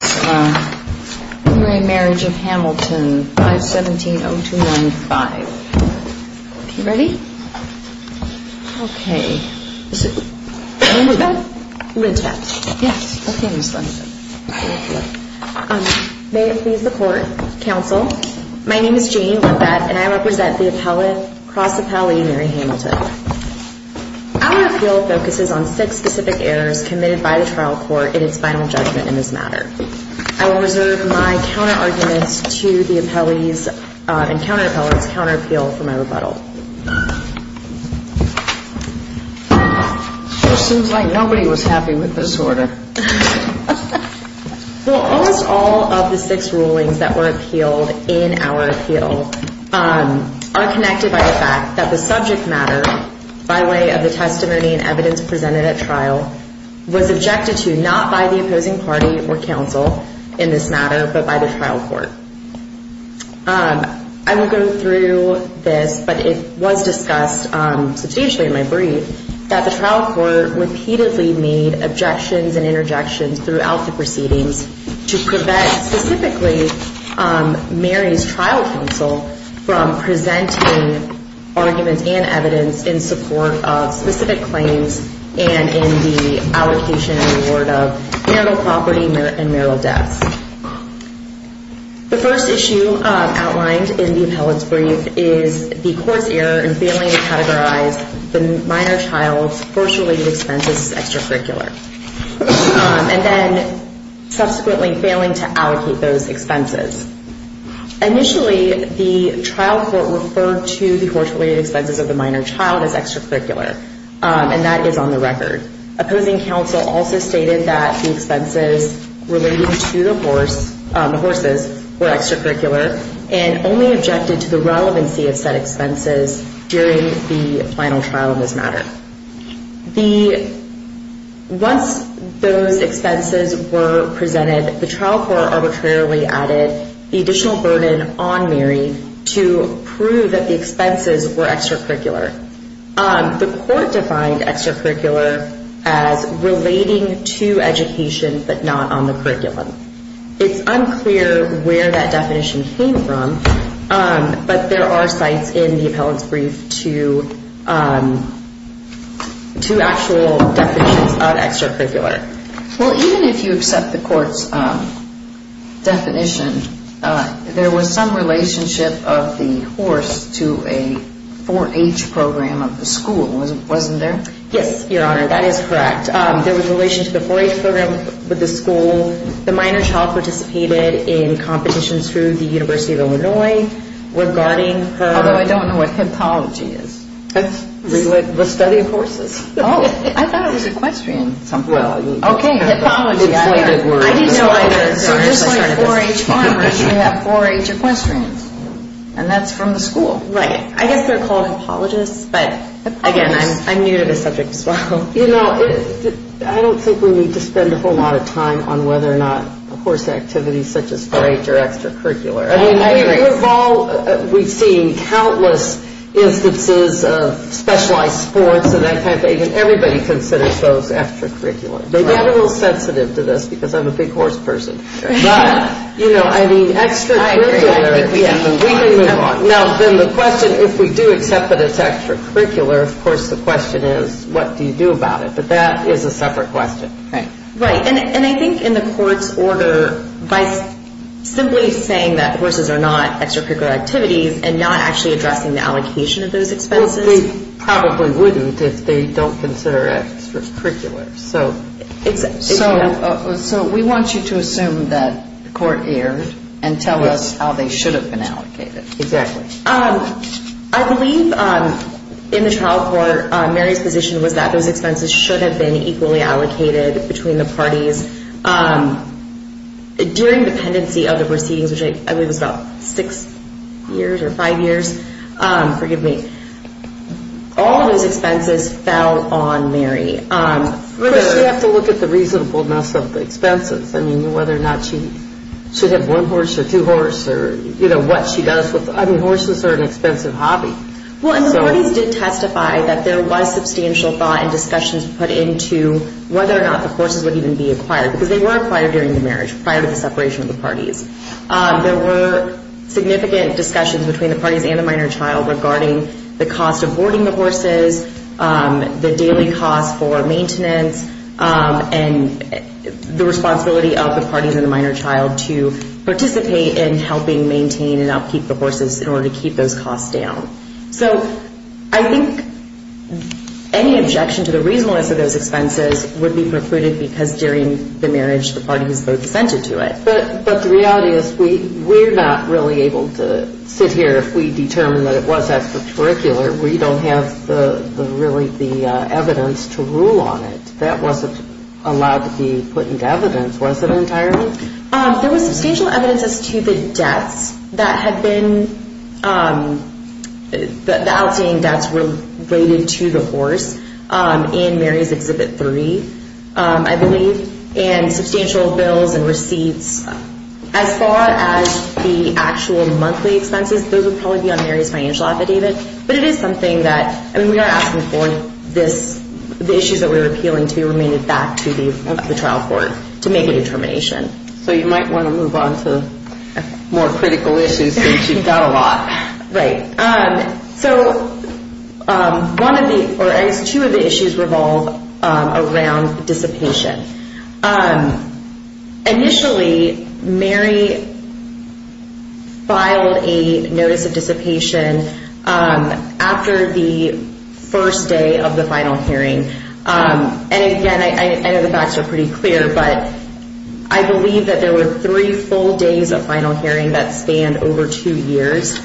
May it please the Court, Counsel. My name is Janie Lundbad and I represent the cross-appellee Mary Hamilton. Our appeal focuses on six specific errors committed by the trial court in its final judgment in this matter. I will reserve my counter-arguments to the appellees and counter-appellants' counter-appeal for my rebuttal. It seems like nobody was happy with this order. Well, almost all of the six rulings that were appealed in our appeal are connected by the fact that the subject matter, by way of the testimony and evidence presented at trial, was objected to not by the opposing party or counsel in this matter, but by the trial court. I will go through this, but it was discussed substantially in my brief, that the trial court repeatedly made objections and interjections throughout the proceedings to prevent specifically Mary's trial counsel from presenting arguments and evidence in support of specific claims and in the allocation and reward of marital property and marital debts. The first issue outlined in the appellant's brief is the court's error in failing to categorize the minor child's birth-related expenses as The trial court referred to the horse-related expenses of the minor child as extracurricular, and that is on the record. Opposing counsel also stated that the expenses relating to the horses were extracurricular, and only objected to the relevancy of said expenses during the final trial in this matter. Once those expenses were presented, the trial court arbitrarily added the additional burden on Mary to prove that the expenses were extracurricular. The court defined extracurricular as relating to education, but not on the curriculum. It's unclear where that definition came from, but there are sites in the Two actual definitions of extracurricular. Well, even if you accept the court's definition, there was some relationship of the horse to a 4-H program of the school, wasn't there? Yes, Your Honor, that is correct. There was a relation to the 4-H program with the school. The minor child participated in competitions through the University of Illinois regarding the study of horses. Oh, I thought it was equestrian. Okay, so just like 4-H farmers, we have 4-H equestrians, and that's from the school. Right. I guess they're called apologists, but again, I'm new to this subject as well. I don't think we need to spend a whole lot of time on whether or not a horse activity such as 4-H are extracurricular. We've seen countless instances of specialized sports, and everybody considers those extracurricular. They've got a little sensitive to this, because I'm a big horse person. But, you know, I mean, extracurricular, we can move on. Now, then the question, if we do accept that it's extracurricular, of course the question is, what do you do about it? But that is a separate question. Right, and I think in the court's order, by simply saying that horses are not extracurricular activities and not actually addressing the allocation of those expenses. Well, they probably wouldn't if they don't consider extracurricular. So we want you to assume that the court erred and tell us how they should have been allocated. Exactly. I believe in the trial court, Mary's position was that those expenses should have been equally allocated between the parties. During the pendency of the proceedings, which I believe was about six years or five years, forgive me, all of those expenses fell on Mary. Of course, you have to look at the reasonableness of the expenses. I mean, whether or not she should have one horse or two horse, or, you know, what she does with, I mean, horses are an expensive hobby. Well, and the parties did testify that there was substantial thought and discussions put into whether or not the horses would even be acquired. Because they were acquired during the marriage, prior to the separation of the parties. There were significant discussions between the parties and the minor child regarding the cost of boarding the horses, the daily cost for maintenance, and the responsibility of the parties and the minor child to participate in helping maintain and upkeep the horses in order to keep those costs down. So I think any objection to the reasonableness of those expenses would be precluded because during the marriage, the parties both assented to it. But the reality is we're not really able to sit here if we determine that it was extracurricular. We don't have really the evidence to rule on it. That wasn't allowed to be put into evidence, was it, entirely? There was substantial evidence as to the debts that had been, the outstanding debts related to the horse in Mary's Exhibit 3, I believe. And substantial bills and receipts, as far as the actual monthly expenses, those would probably be on Mary's financial affidavit. But it is something that, I mean, we are asking for this, the issues that we were appealing to be remanded back to the trial court to make a determination. So you might want to move on to more critical issues since you've got a lot. Right. So one of the, or at least two of the issues revolve around dissipation. Initially, Mary filed a notice of dissipation after the first day of the final hearing. And again, I know the facts are pretty clear, but I believe that there were three full days of final hearing that spanned over two years. So,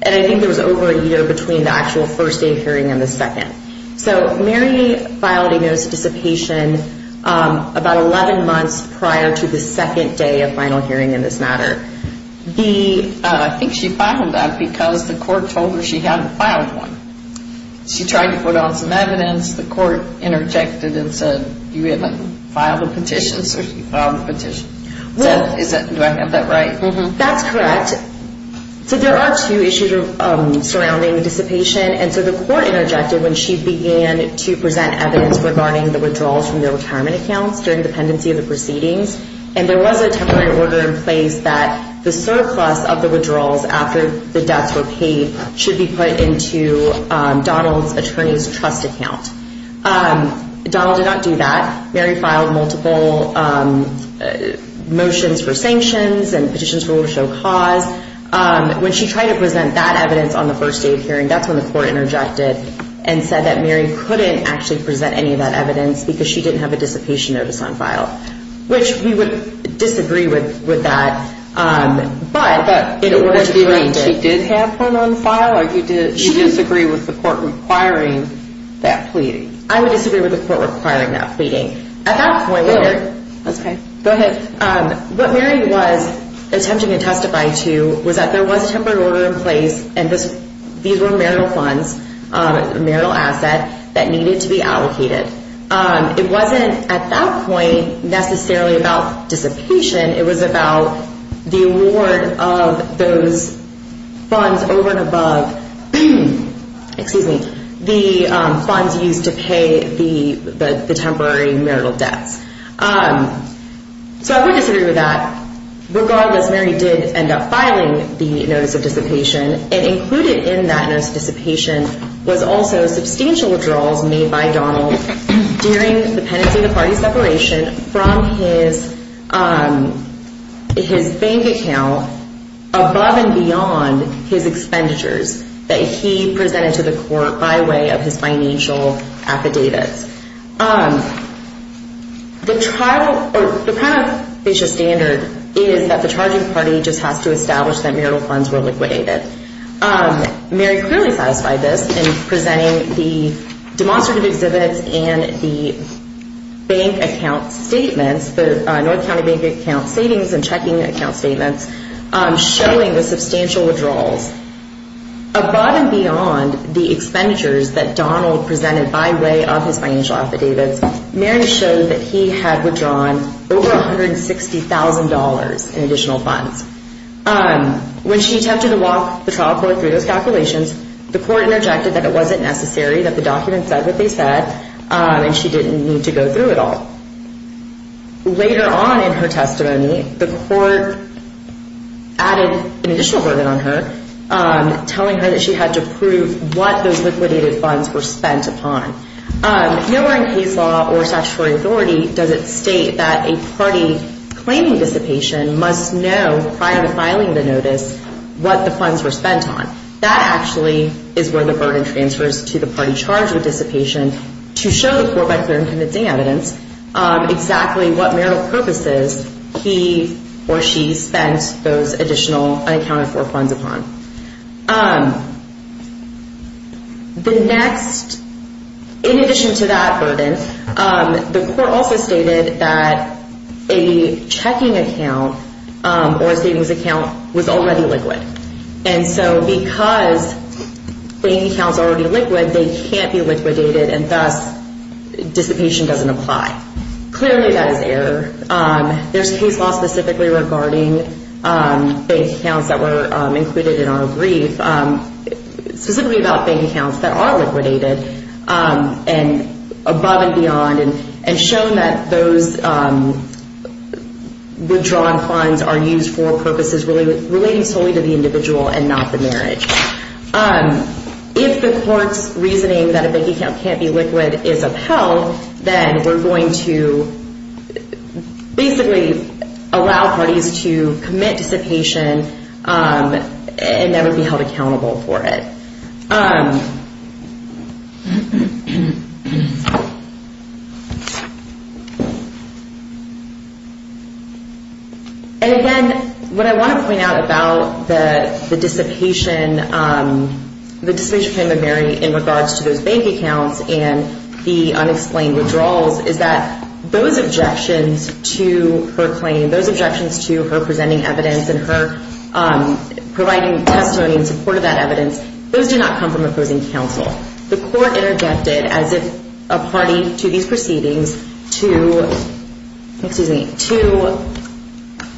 and I think there was over a year between the actual first day of hearing and the second. So Mary filed a notice of dissipation about 11 months prior to the second day of final hearing in this matter. I think she filed that because the court told her she hadn't filed one. She tried to put on some evidence, the court interjected and said, you haven't filed a petition. So she filed a petition. Do I have that right? That's correct. So there are two issues surrounding dissipation. And so the court interjected when she began to present evidence regarding the withdrawals from their retirement accounts during the pendency of the proceedings. And there was a temporary order in place that the surplus of the withdrawals after the debts were paid should be put into Donald's attorney's trust account. Donald did not do that. Mary filed multiple motions for sanctions and petitions for order to show cause. When she tried to present that evidence on the first day of hearing, that's when the court interjected and said that Mary couldn't actually present any of that evidence because she didn't have a dissipation notice on file. Which we would disagree with that. But did she have one on file or do you disagree with the court requiring that pleading? I would disagree with the court requiring that pleading. At that point, what Mary was attempting to testify to was that there was a temporary order in place and these were marital funds, marital assets that needed to be allocated. It wasn't at that point necessarily about dissipation. It was about the award of those funds over and above the funds used to pay the temporary notice. So I would disagree with that. Regardless, Mary did end up filing the notice of dissipation and included in that notice of dissipation was also substantial withdrawals made by Donald during the penitentiary party separation from his bank account above and beyond his expenditures that he presented to the court by way of his financial affidavits. The trial or the kind of standard is that the charging party just has to establish that marital funds were liquidated. Mary clearly satisfied this in presenting the demonstrative exhibits and the bank account statements, the North County bank account savings and checking account statements, showing the substantial withdrawals. Above and beyond the expenditures that Donald presented by way of his financial affidavits, Mary showed that there was substantial withdrawal. She showed that he had withdrawn over $160,000 in additional funds. When she attempted to walk the trial court through those calculations, the court interjected that it wasn't necessary, that the document said what they said, and she didn't need to go through it all. Later on in her testimony, the court added an additional verdict on her, telling her that she had to prove what those liquidated funds were spent upon. Nowhere in case law or statutory authority does it state that a party claiming dissipation must know prior to filing the notice what the funds were spent on. That actually is where the verdict transfers to the party charged with dissipation to show the court by clear and convincing evidence exactly what marital purposes he or she spent those additional unaccounted for funds upon. The next, in addition to that burden, the court also stated that a checking account or a savings account was already liquid. And so because bank accounts are already liquid, they can't be liquidated, and thus dissipation doesn't apply. Clearly that is error. There's case law specifically regarding bank accounts that were included in our brief, specifically about bank accounts that are liquidated, and above and beyond, and shown that those withdrawn funds are used for purposes relating solely to the individual and not the marriage. If the court's reasoning that a bank account can't be liquid is upheld, then we're going to dismiss the case. Basically, allow parties to commit dissipation and never be held accountable for it. And again, what I want to point out about the dissipation, the dissipation of payment of marriage in regards to those bank accounts and the unexplained withdrawals is that those objections, those objections to her claim, those objections to her presenting evidence and her providing testimony in support of that evidence, those do not come from opposing counsel. The court interjected as if a party to these proceedings to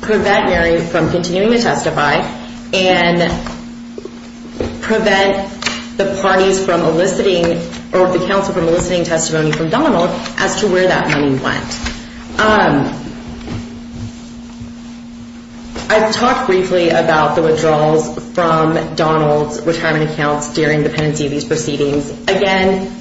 prevent Mary from continuing to testify and prevent the parties from eliciting, or the counsel from eliciting testimony from Donald as to where that money went. I've talked briefly about the withdrawals from Donald's retirement accounts during the pendency of these proceedings. Again,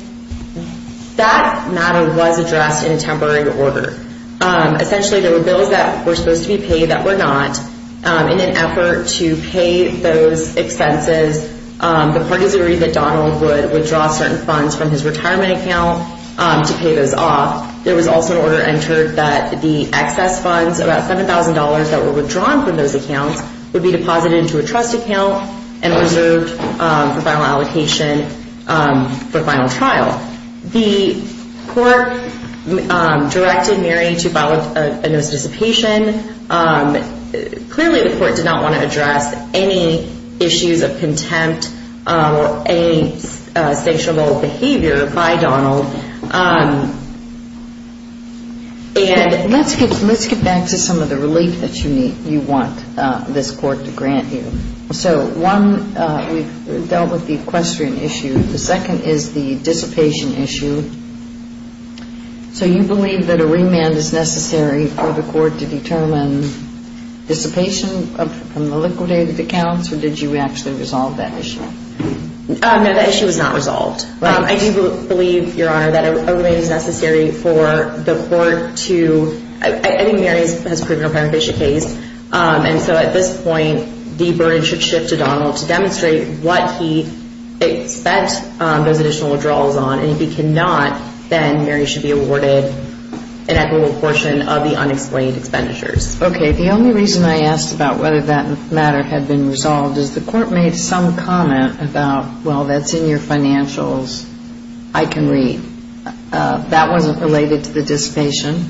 that matter was addressed in a temporary order. Essentially, there were bills that were supposed to be paid that were not. In an effort to pay those expenses, the parties agreed that Donald would withdraw certain funds from his retirement account to pay those off. There was also an order entered that the excess funds, about $7,000 that were withdrawn from those accounts, would be deposited into a trust account and reserved for final allocation for final trial. The court directed Mary to file a notice of dissipation. Clearly, the court did not want to address any issues of contempt or any sanctionable behavior by Donald. And let's get back to some of the relief that you want this court to grant you. So one, we've dealt with the equestrian issue. The second is the dissipation issue. So you believe that a remand is necessary for the court to determine dissipation from the liquidated accounts, or did you actually resolve that issue? No, that issue was not resolved. I do believe, Your Honor, that a remand is necessary for the court to... I think Mary has proven her case, and so at this point, the burden should shift to Donald to demonstrate what he expects those additional withdrawals on. And if he cannot, then Mary should be awarded an equitable portion of the unexplained expenditures. Okay, the only reason I asked about whether that matter had been resolved is the court made some comment about, well, that's in your financials, I can read. That wasn't related to the dissipation?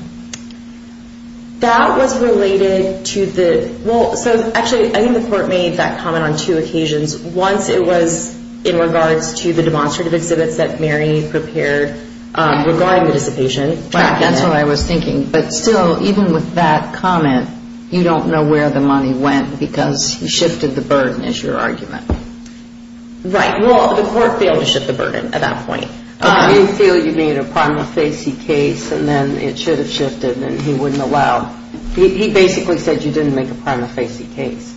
That was related to the... Well, so actually, I think the court made that comment on two occasions. Once it was in regards to the demonstrative exhibits that Mary prepared regarding the dissipation. Right, that's what I was thinking. But still, even with that comment, you don't know where the money went because he shifted the burden, is your argument. Right, well, the court failed to shift the burden at that point. But you feel you made a prima facie case, and then it should have shifted, and he wouldn't allow... He basically said you didn't make a prima facie case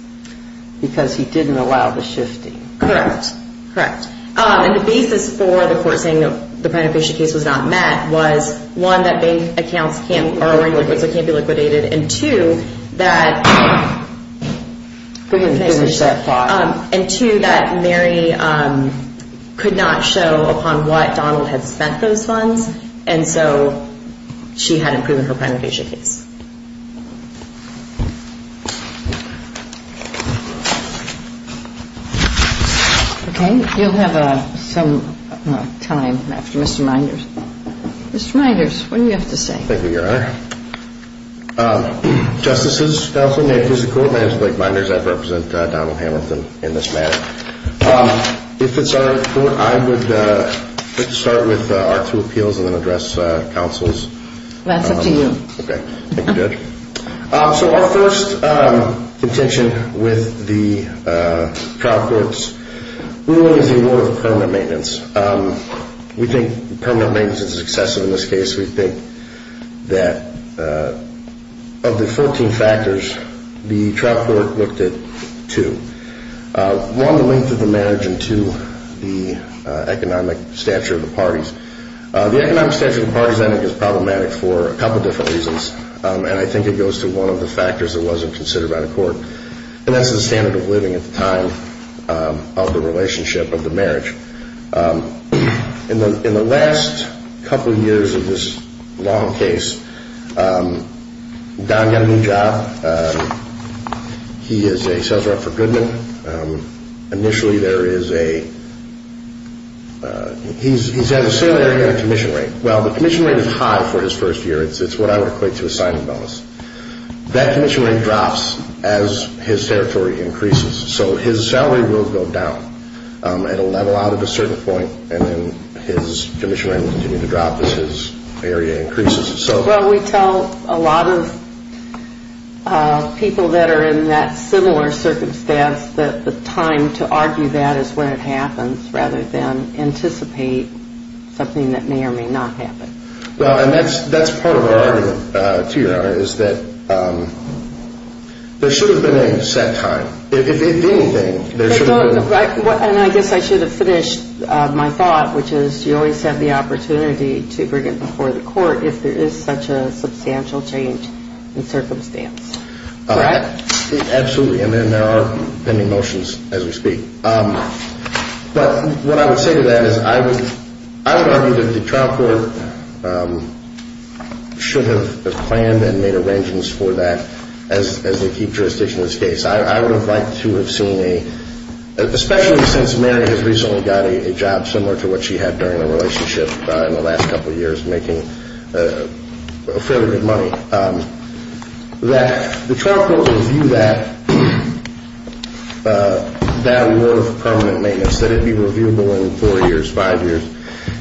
because he didn't allow the shifting. Correct, correct. And the basis for the court saying the prima facie case was not met was, one, that bank accounts can't... ...can't be liquidated, and two, that... Go ahead and finish that thought. And two, that Mary could not show upon what Donald had spent those funds, and so she hadn't proven her prima facie case. Okay, you'll have some time after Mr. Meinders. Mr. Meinders, what do you have to say? Thank you, Your Honor. Justices, counsel, may I please have the court? My name is Blake Meinders. I represent Donald Hamilton in this matter. If it's all right with the court, I would like to start with our two appeals and then address counsels. That's up to you. Okay, thank you, Judge. So our first contention with the trial court's ruling is the award of permanent maintenance. We think permanent maintenance is excessive in this case. We think that of the 14 factors, the trial court looked at two. One, the length of the marriage, and two, the economic stature of the parties. The economic stature of the parties I think is problematic for a couple different reasons, and I think it goes to one of the factors that wasn't considered by the court, and that's the standard of living at the time of the relationship, of the marriage. In the last couple of years of this long case, Don got a new job. He is a sales rep for Goodman. Initially there is a, he's at a salaried commission rate. Well, the commission rate is high for his first year. It's what I would equate to a signing bonus. That commission rate drops as his territory increases. So his salary will go down at a level out of a certain point, and then his commission rate will continue to drop as his area increases. Well, we tell a lot of people that are in that similar circumstance that the time to argue that is when it happens rather than anticipate something that may or may not happen. Well, and that's part of our argument, too, Your Honor, is that there should have been a set time. If anything, there should have been. And I guess I should have finished my thought, which is you always have the opportunity to bring it before the court if there is such a substantial change in circumstance. Correct? Absolutely, and then there are pending motions as we speak. But what I would say to that is I would argue that the trial court should have planned and made arrangements for that as the key jurisdiction in this case. I would have liked to have seen a, especially since Mary has recently got a job similar to what she had during the relationship in the last couple of years making fairly good money, that the trial court review that, that order for permanent maintenance, that it be reviewable in four years, five years,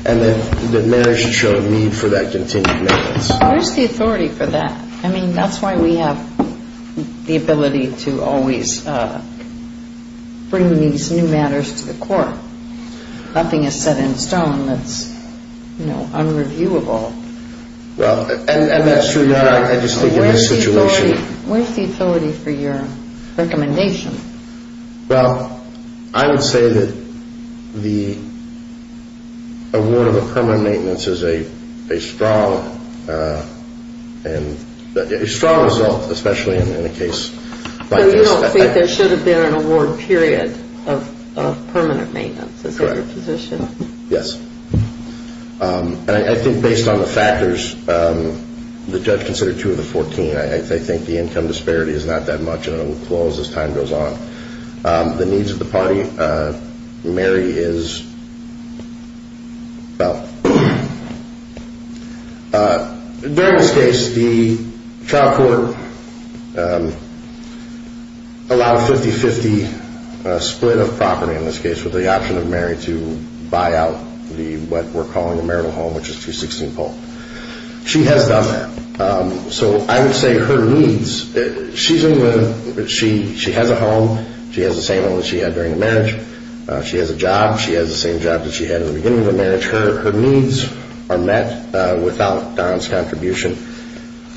and that Mary should show a need for that continued maintenance. Where's the authority for that? I mean, that's why we have the ability to always bring these new matters to the court. Nothing is set in stone that's, you know, unreviewable. Well, and that's true. I just think in this situation. Where's the authority for your recommendation? Well, I would say that the award of a permanent maintenance is a strong result, especially in a case like this. So you don't think there should have been an award period of permanent maintenance? Correct. Is that your position? Yes. And I think based on the factors, the judge considered two of the 14. I think the income disparity is not that much, and it will close as time goes on. The needs of the party, Mary is, well, during this case, the trial court allowed a 50-50 split of property in this case with the option of Mary to buy out what we're calling a marital home, which is 216 Polk. She has done that. So I would say her needs, she has a home. She has the same home that she had during the marriage. She has a job. She has the same job that she had in the beginning of the marriage. Her needs are met without Don's contribution.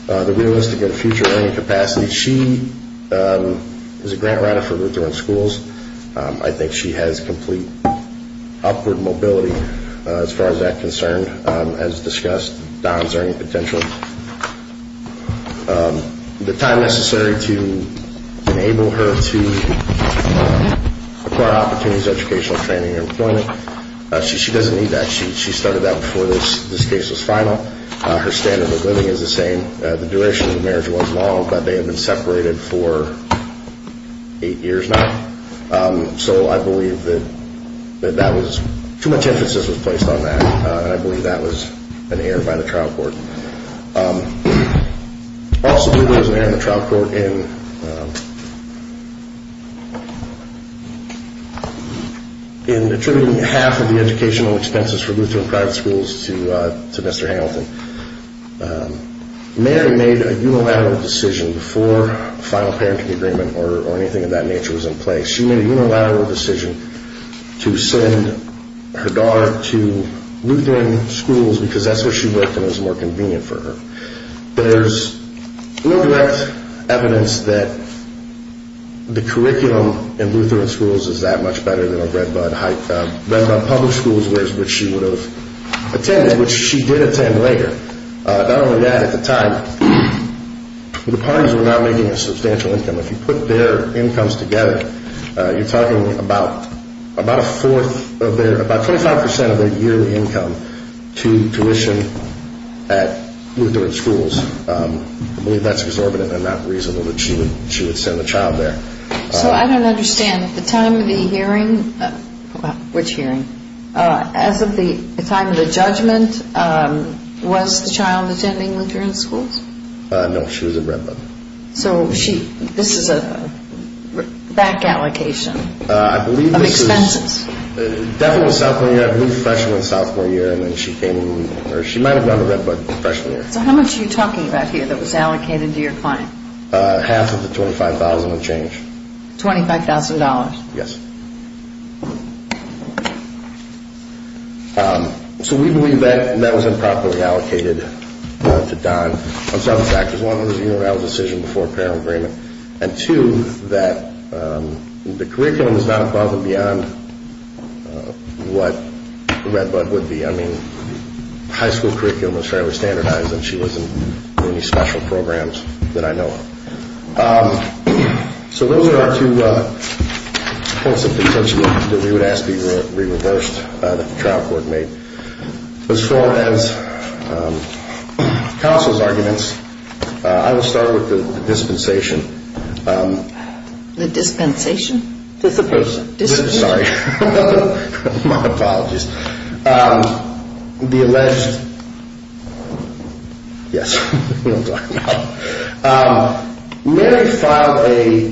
The realistic and future earning capacity, she is a grant writer for Lutheran schools. I think she has complete upward mobility as far as that's concerned, as discussed, Don's earning potential. The time necessary to enable her to acquire opportunities, educational training and employment, she doesn't need that. She started that before this case was final. Her standard of living is the same. The duration of the marriage was long, but they had been separated for eight years now. So I believe that that was too much emphasis was placed on that, and I believe that was an error by the trial court. Also, there was an error in the trial court in attributing half of the educational expenses for Lutheran private schools to Mr. Hamilton. Mary made a unilateral decision before a final parenting agreement or anything of that nature was in place. She made a unilateral decision to send her daughter to Lutheran schools because that's where she worked and it was more convenient for her. There's no direct evidence that the curriculum in Lutheran schools is that much better than at Redbud Public Schools, which she would have attended, which she did attend later. Not only that, at the time, the parties were not making a substantial income. If you put their incomes together, you're talking about a fourth of their, about 25% of their year income to tuition at Lutheran schools. I believe that's exorbitant and not reasonable that she would send a child there. So I don't understand. At the time of the hearing, which hearing? As of the time of the judgment, was the child attending Lutheran schools? No, she was at Redbud. So she, this is a back allocation of expenses? I believe this is, definitely in sophomore year, I believe freshman and sophomore year, and then she came in, or she might have gone to Redbud freshman year. So how much are you talking about here that was allocated to your client? Half of the $25,000 would change. $25,000? Yes. So we believe that that was improperly allocated to Don on several factors. One, it was a unilateral decision before apparel agreement. And two, that the curriculum is not above and beyond what Redbud would be. I mean, high school curriculum is fairly standardized, and she wasn't in any special programs that I know of. So those are our two points of contention that we would ask to be reversed, that the trial court made. As far as counsel's arguments, I will start with the dispensation. The dispensation? Sorry. My apologies. The alleged, yes, I know what I'm talking about. Mary filed a,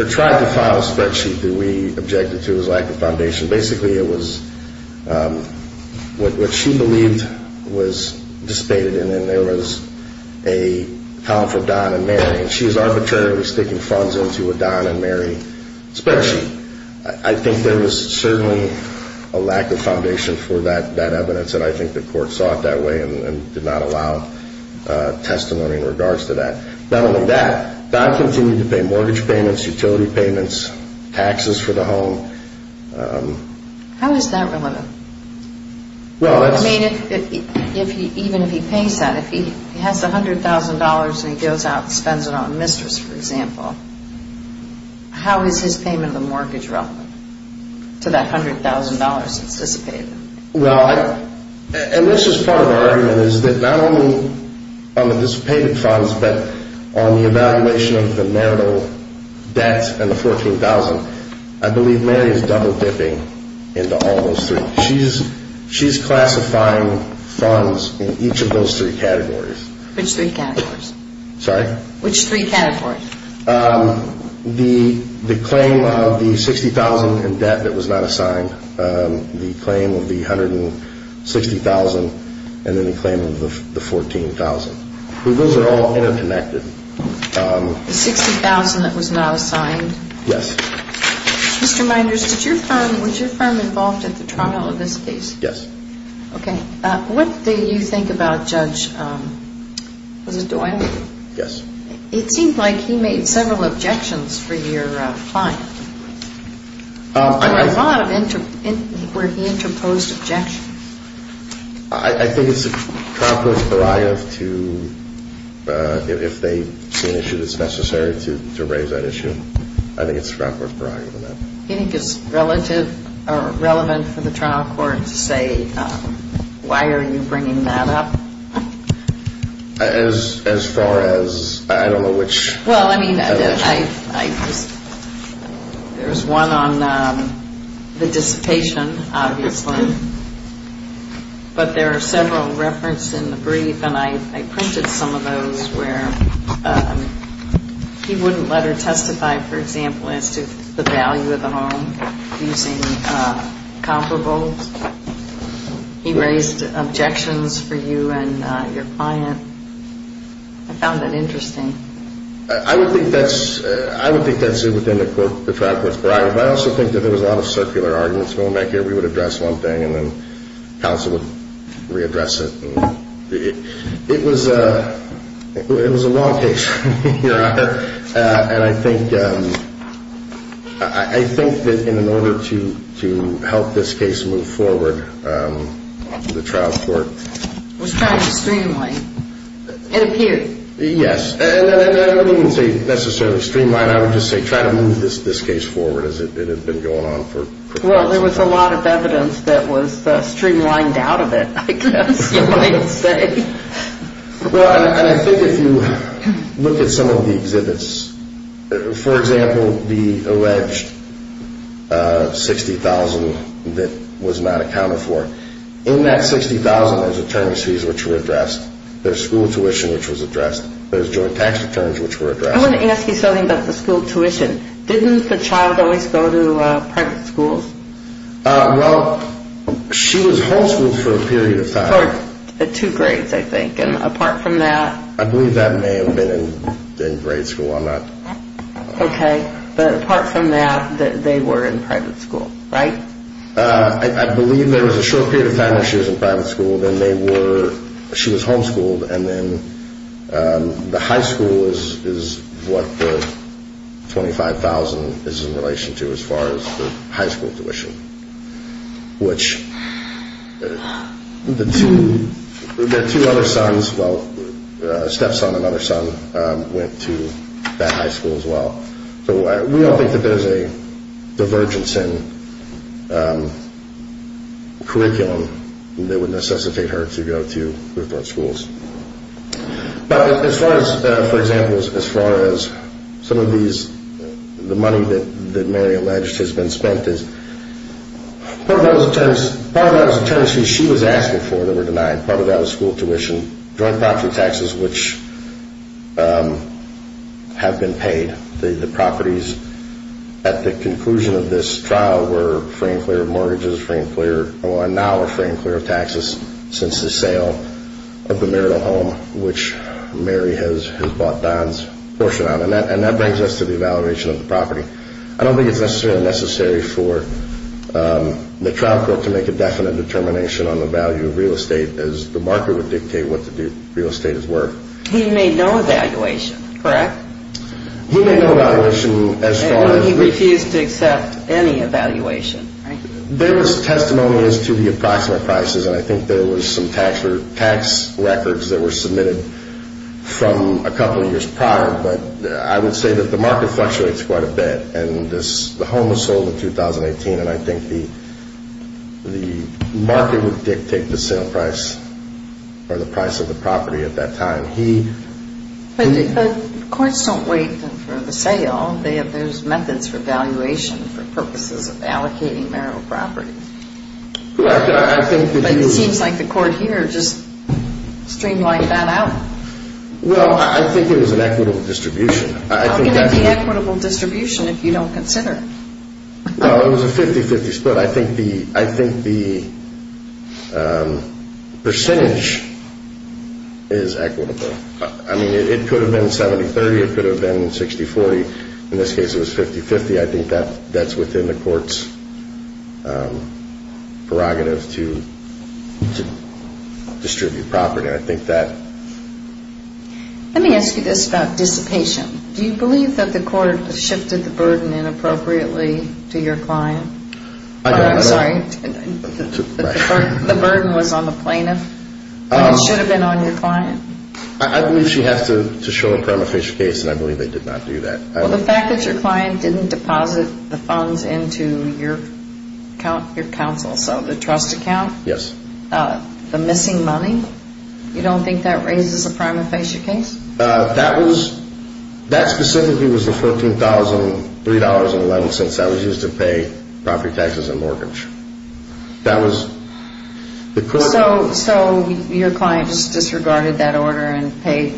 or tried to file a spreadsheet that we objected to as lack of foundation. Basically, it was what she believed was dissipated, and then there was a column for Don and Mary. And she was arbitrarily sticking funds into a Don and Mary spreadsheet. I think there was certainly a lack of foundation for that evidence, and I think the court saw it that way and did not allow testimony in regards to that. Not only that, Don continued to pay mortgage payments, utility payments, taxes for the home. How is that relevant? I mean, even if he pays that, if he has $100,000 and he goes out and spends it on a mistress, for example, how is his payment of the mortgage relevant to that $100,000 that's dissipated? Well, and this is part of our argument, is that not only on the dissipated funds, but on the evaluation of the marital debt and the $14,000, I believe Mary is double-dipping into all those three. She's classifying funds in each of those three categories. Sorry? Which three categories? The claim of the $60,000 in debt that was not assigned, the claim of the $160,000, and then the claim of the $14,000. Those are all interconnected. The $60,000 that was not assigned? Yes. Mr. Meinders, was your firm involved at the trial of this case? Yes. Okay. What do you think about Judge, was it Doyle? Yes. It seems like he made several objections for your client. There were a lot where he interposed objections. I think it's the trial court's prerogative to, if they see an issue that's necessary, to raise that issue. I think it's the trial court's prerogative on that. Do you think it's relevant for the trial court to say, why are you bringing that up? As far as, I don't know which. Well, I mean, there's one on the dissipation, obviously, but there are several referenced in the brief, and I printed some of those where he wouldn't let her testify, for example, as to the value of the home using comparable. He raised objections for you and your client. I found that interesting. I would think that's within the trial court's prerogative. I also think that there was a lot of circular arguments going back here. We would address one thing, and then counsel would readdress it. It was a long case. I think that in order to help this case move forward, the trial court was trying to streamline. It appeared. Yes. I wouldn't say necessarily streamline. I would just say try to move this case forward as it had been going on for quite some time. Well, there was a lot of evidence that was streamlined out of it, I guess you might say. Well, and I think if you look at some of the exhibits, for example, the alleged $60,000 that was not accounted for, in that $60,000 there's attorneys fees which were addressed. There's school tuition which was addressed. There's joint tax returns which were addressed. I want to ask you something about the school tuition. Didn't the child always go to private schools? Well, she was homeschooled for a period of time. For two grades, I think. And apart from that. I believe that may have been in grade school. I'm not. Okay. But apart from that, they were in private school, right? I believe there was a short period of time where she was in private school. Then they were, she was homeschooled. And then the high school is what the $25,000 is in relation to as far as the high school tuition. Which the two other sons, well, stepson and other son, went to that high school as well. So we all think that there's a divergence in curriculum that would necessitate her to go to different schools. But as far as, for example, as far as some of these, the money that Mary alleged has been spent is, part of that was the tuition she was asking for that were denied. Part of that was school tuition. Joint property taxes which have been paid. The properties at the conclusion of this trial were framed clear of mortgages, and now are framed clear of taxes since the sale of the marital home which Mary has bought Don's portion on. And that brings us to the evaluation of the property. I don't think it's necessarily necessary for the trial court to make a definite determination on the value of real estate as the market would dictate what the real estate is worth. He made no evaluation, correct? He made no evaluation as far as. He refused to accept any evaluation, right? There was testimony as to the approximate prices, and I think there was some tax records that were submitted from a couple of years prior. But I would say that the market fluctuates quite a bit. And the home was sold in 2018, and I think the market would dictate the sale price or the price of the property at that time. But courts don't wait for the sale. There's methods for valuation for purposes of allocating marital property. Correct. But it seems like the court here just streamlined that out. Well, I think it was an equitable distribution. How can it be equitable distribution if you don't consider it? Well, it was a 50-50 split. I think the percentage is equitable. I mean, it could have been 70-30, it could have been 60-40. In this case, it was 50-50. I think that's within the court's prerogative to distribute property. Let me ask you this about dissipation. Do you believe that the court shifted the burden inappropriately to your client? I'm sorry. The burden was on the plaintiff, but it should have been on your client? I believe she has to show a prima facie case, and I believe they did not do that. Well, the fact that your client didn't deposit the funds into your counsel, so the trust account? Yes. The missing money, you don't think that raises a prima facie case? That specifically was the $14,003.11 since that was used to pay property taxes and mortgage. So your client just disregarded that order and paid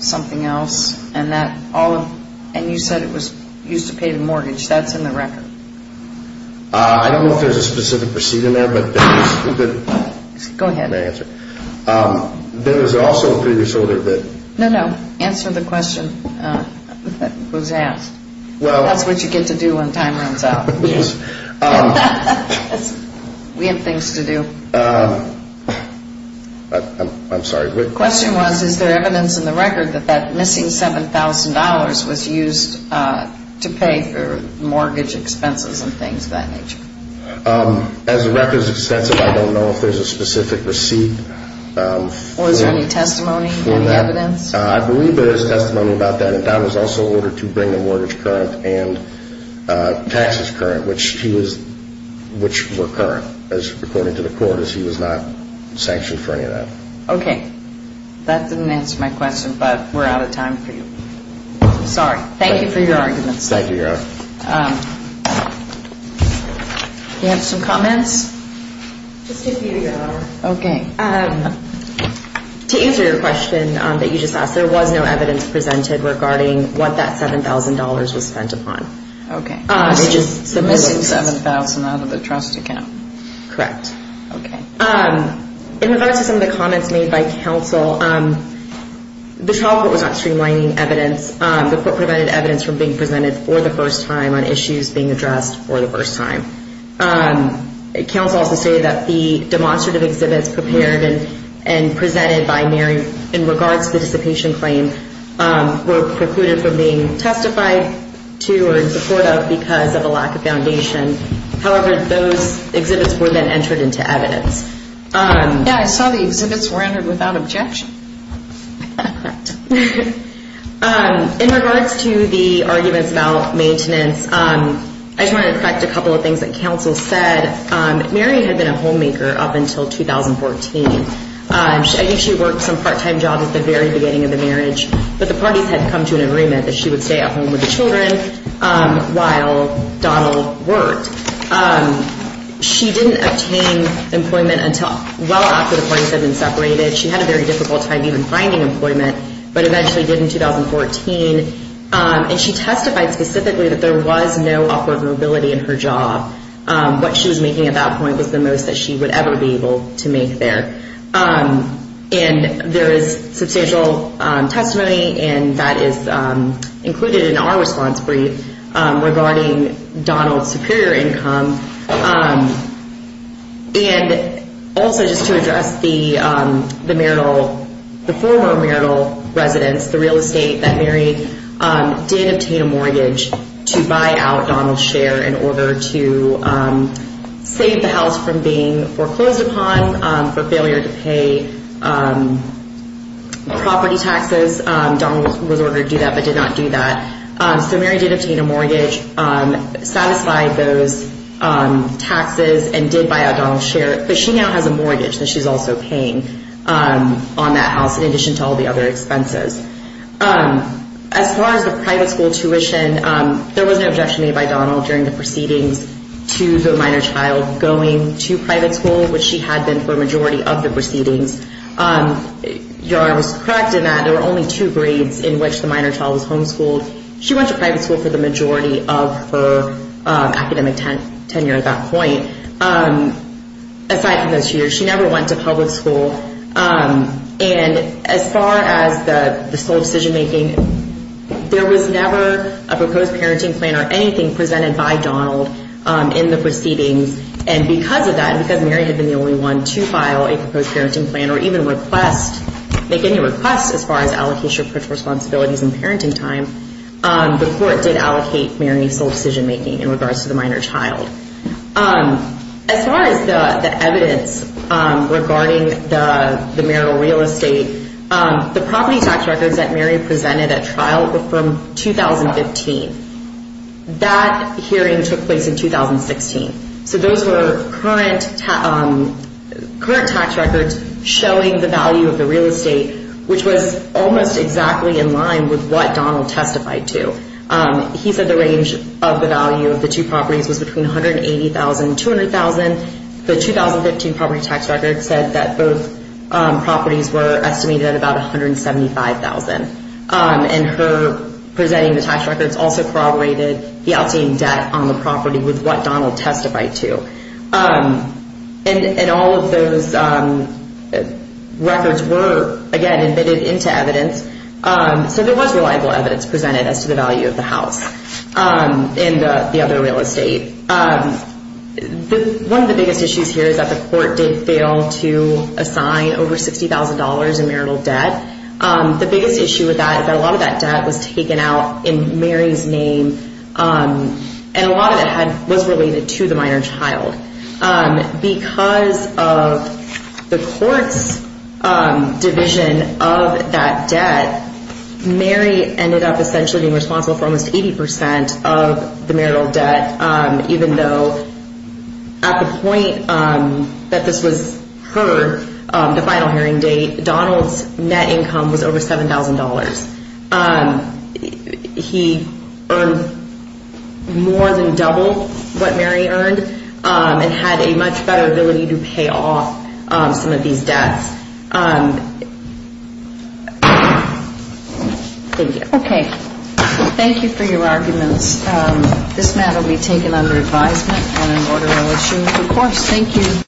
something else, and you said it was used to pay the mortgage. That's in the record. I don't know if there's a specific receipt in there. Go ahead. No, no. Answer the question that was asked. That's what you get to do when time runs out. We have things to do. I'm sorry. The question was, is there evidence in the record that that missing $7,000 was used to pay for mortgage expenses and things of that nature? As the record is extensive, I don't know if there's a specific receipt. Was there any testimony, any evidence? I believe there is testimony about that, and that was also ordered to bring the mortgage current and taxes current, which were current, according to the court, as he was not sanctioned for any of that. Okay. That didn't answer my question, but we're out of time for you. Thank you for your arguments. Thank you, Your Honor. Do you have some comments? Just a few, Your Honor. Okay. To answer your question that you just asked, there was no evidence presented regarding what that $7,000 was spent upon. Okay. It was a missing $7,000 out of the trust account. Correct. Okay. In regards to some of the comments made by counsel, the trial court was not streamlining evidence. The court prevented evidence from being presented for the first time on issues being addressed for the first time. Counsel also stated that the demonstrative exhibits prepared and presented by Mary in regards to the dissipation claim were precluded from being testified to or in support of because of a lack of foundation. However, those exhibits were then entered into evidence. Yeah, I saw the exhibits were entered without objection. Correct. In regards to the arguments about maintenance, I just wanted to correct a couple of things that counsel said. Mary had been a homemaker up until 2014. I think she worked some part-time jobs at the very beginning of the marriage, but the parties had come to an agreement that she would stay at home with the children while Donald worked. She didn't obtain employment until well after the parties had been separated. She had a very difficult time even finding employment, but eventually did in 2014. And she testified specifically that there was no upward mobility in her job. What she was making at that point was the most that she would ever be able to make there. And there is substantial testimony, and that is included in our response brief, regarding Donald's superior income. And also just to address the former marital residence, the real estate that Mary did obtain a mortgage to buy out Donald's share in order to save the house from being foreclosed upon for failure to pay property taxes. Donald was ordered to do that but did not do that. So Mary did obtain a mortgage, satisfied those taxes, and did buy out Donald's share. But she now has a mortgage that she's also paying on that house in addition to all the other expenses. As far as the private school tuition, there was no objection made by Donald during the proceedings to the minor child going to private school, which she had been for a majority of the proceedings. I was correct in that there were only two grades in which the minor child was homeschooled. She went to private school for the majority of her academic tenure at that point. Aside from those two years, she never went to public school. And as far as the sole decision-making, there was never a proposed parenting plan or anything presented by Donald in the proceedings. And because of that, because Mary had been the only one to file a proposed parenting plan or even make any requests as far as allocation of parental responsibilities and parenting time, the court did allocate Mary any sole decision-making in regards to the minor child. As far as the evidence regarding the marital real estate, the property tax records that Mary presented at trial were from 2015. That hearing took place in 2016. So those were current tax records showing the value of the real estate, which was almost exactly in line with what Donald testified to. He said the range of the value of the two properties was between $180,000 and $200,000. The 2015 property tax record said that both properties were estimated at about $175,000. And her presenting the tax records also corroborated the outstanding debt on the property with what Donald testified to. And all of those records were, again, embedded into evidence. So there was reliable evidence presented as to the value of the house and the other real estate. One of the biggest issues here is that the court did fail to assign over $60,000 in marital debt. The biggest issue with that is that a lot of that debt was taken out in Mary's name, and a lot of it was related to the minor child. Because of the court's division of that debt, Mary ended up essentially being responsible for almost 80% of the marital debt, even though at the point that this was her, the final hearing date, Donald's net income was over $7,000. He earned more than double what Mary earned and had a much better ability to pay off some of these debts. Thank you. Okay. Thank you for your arguments. This matter will be taken under advisement and an order will issue. Of course. Thank you.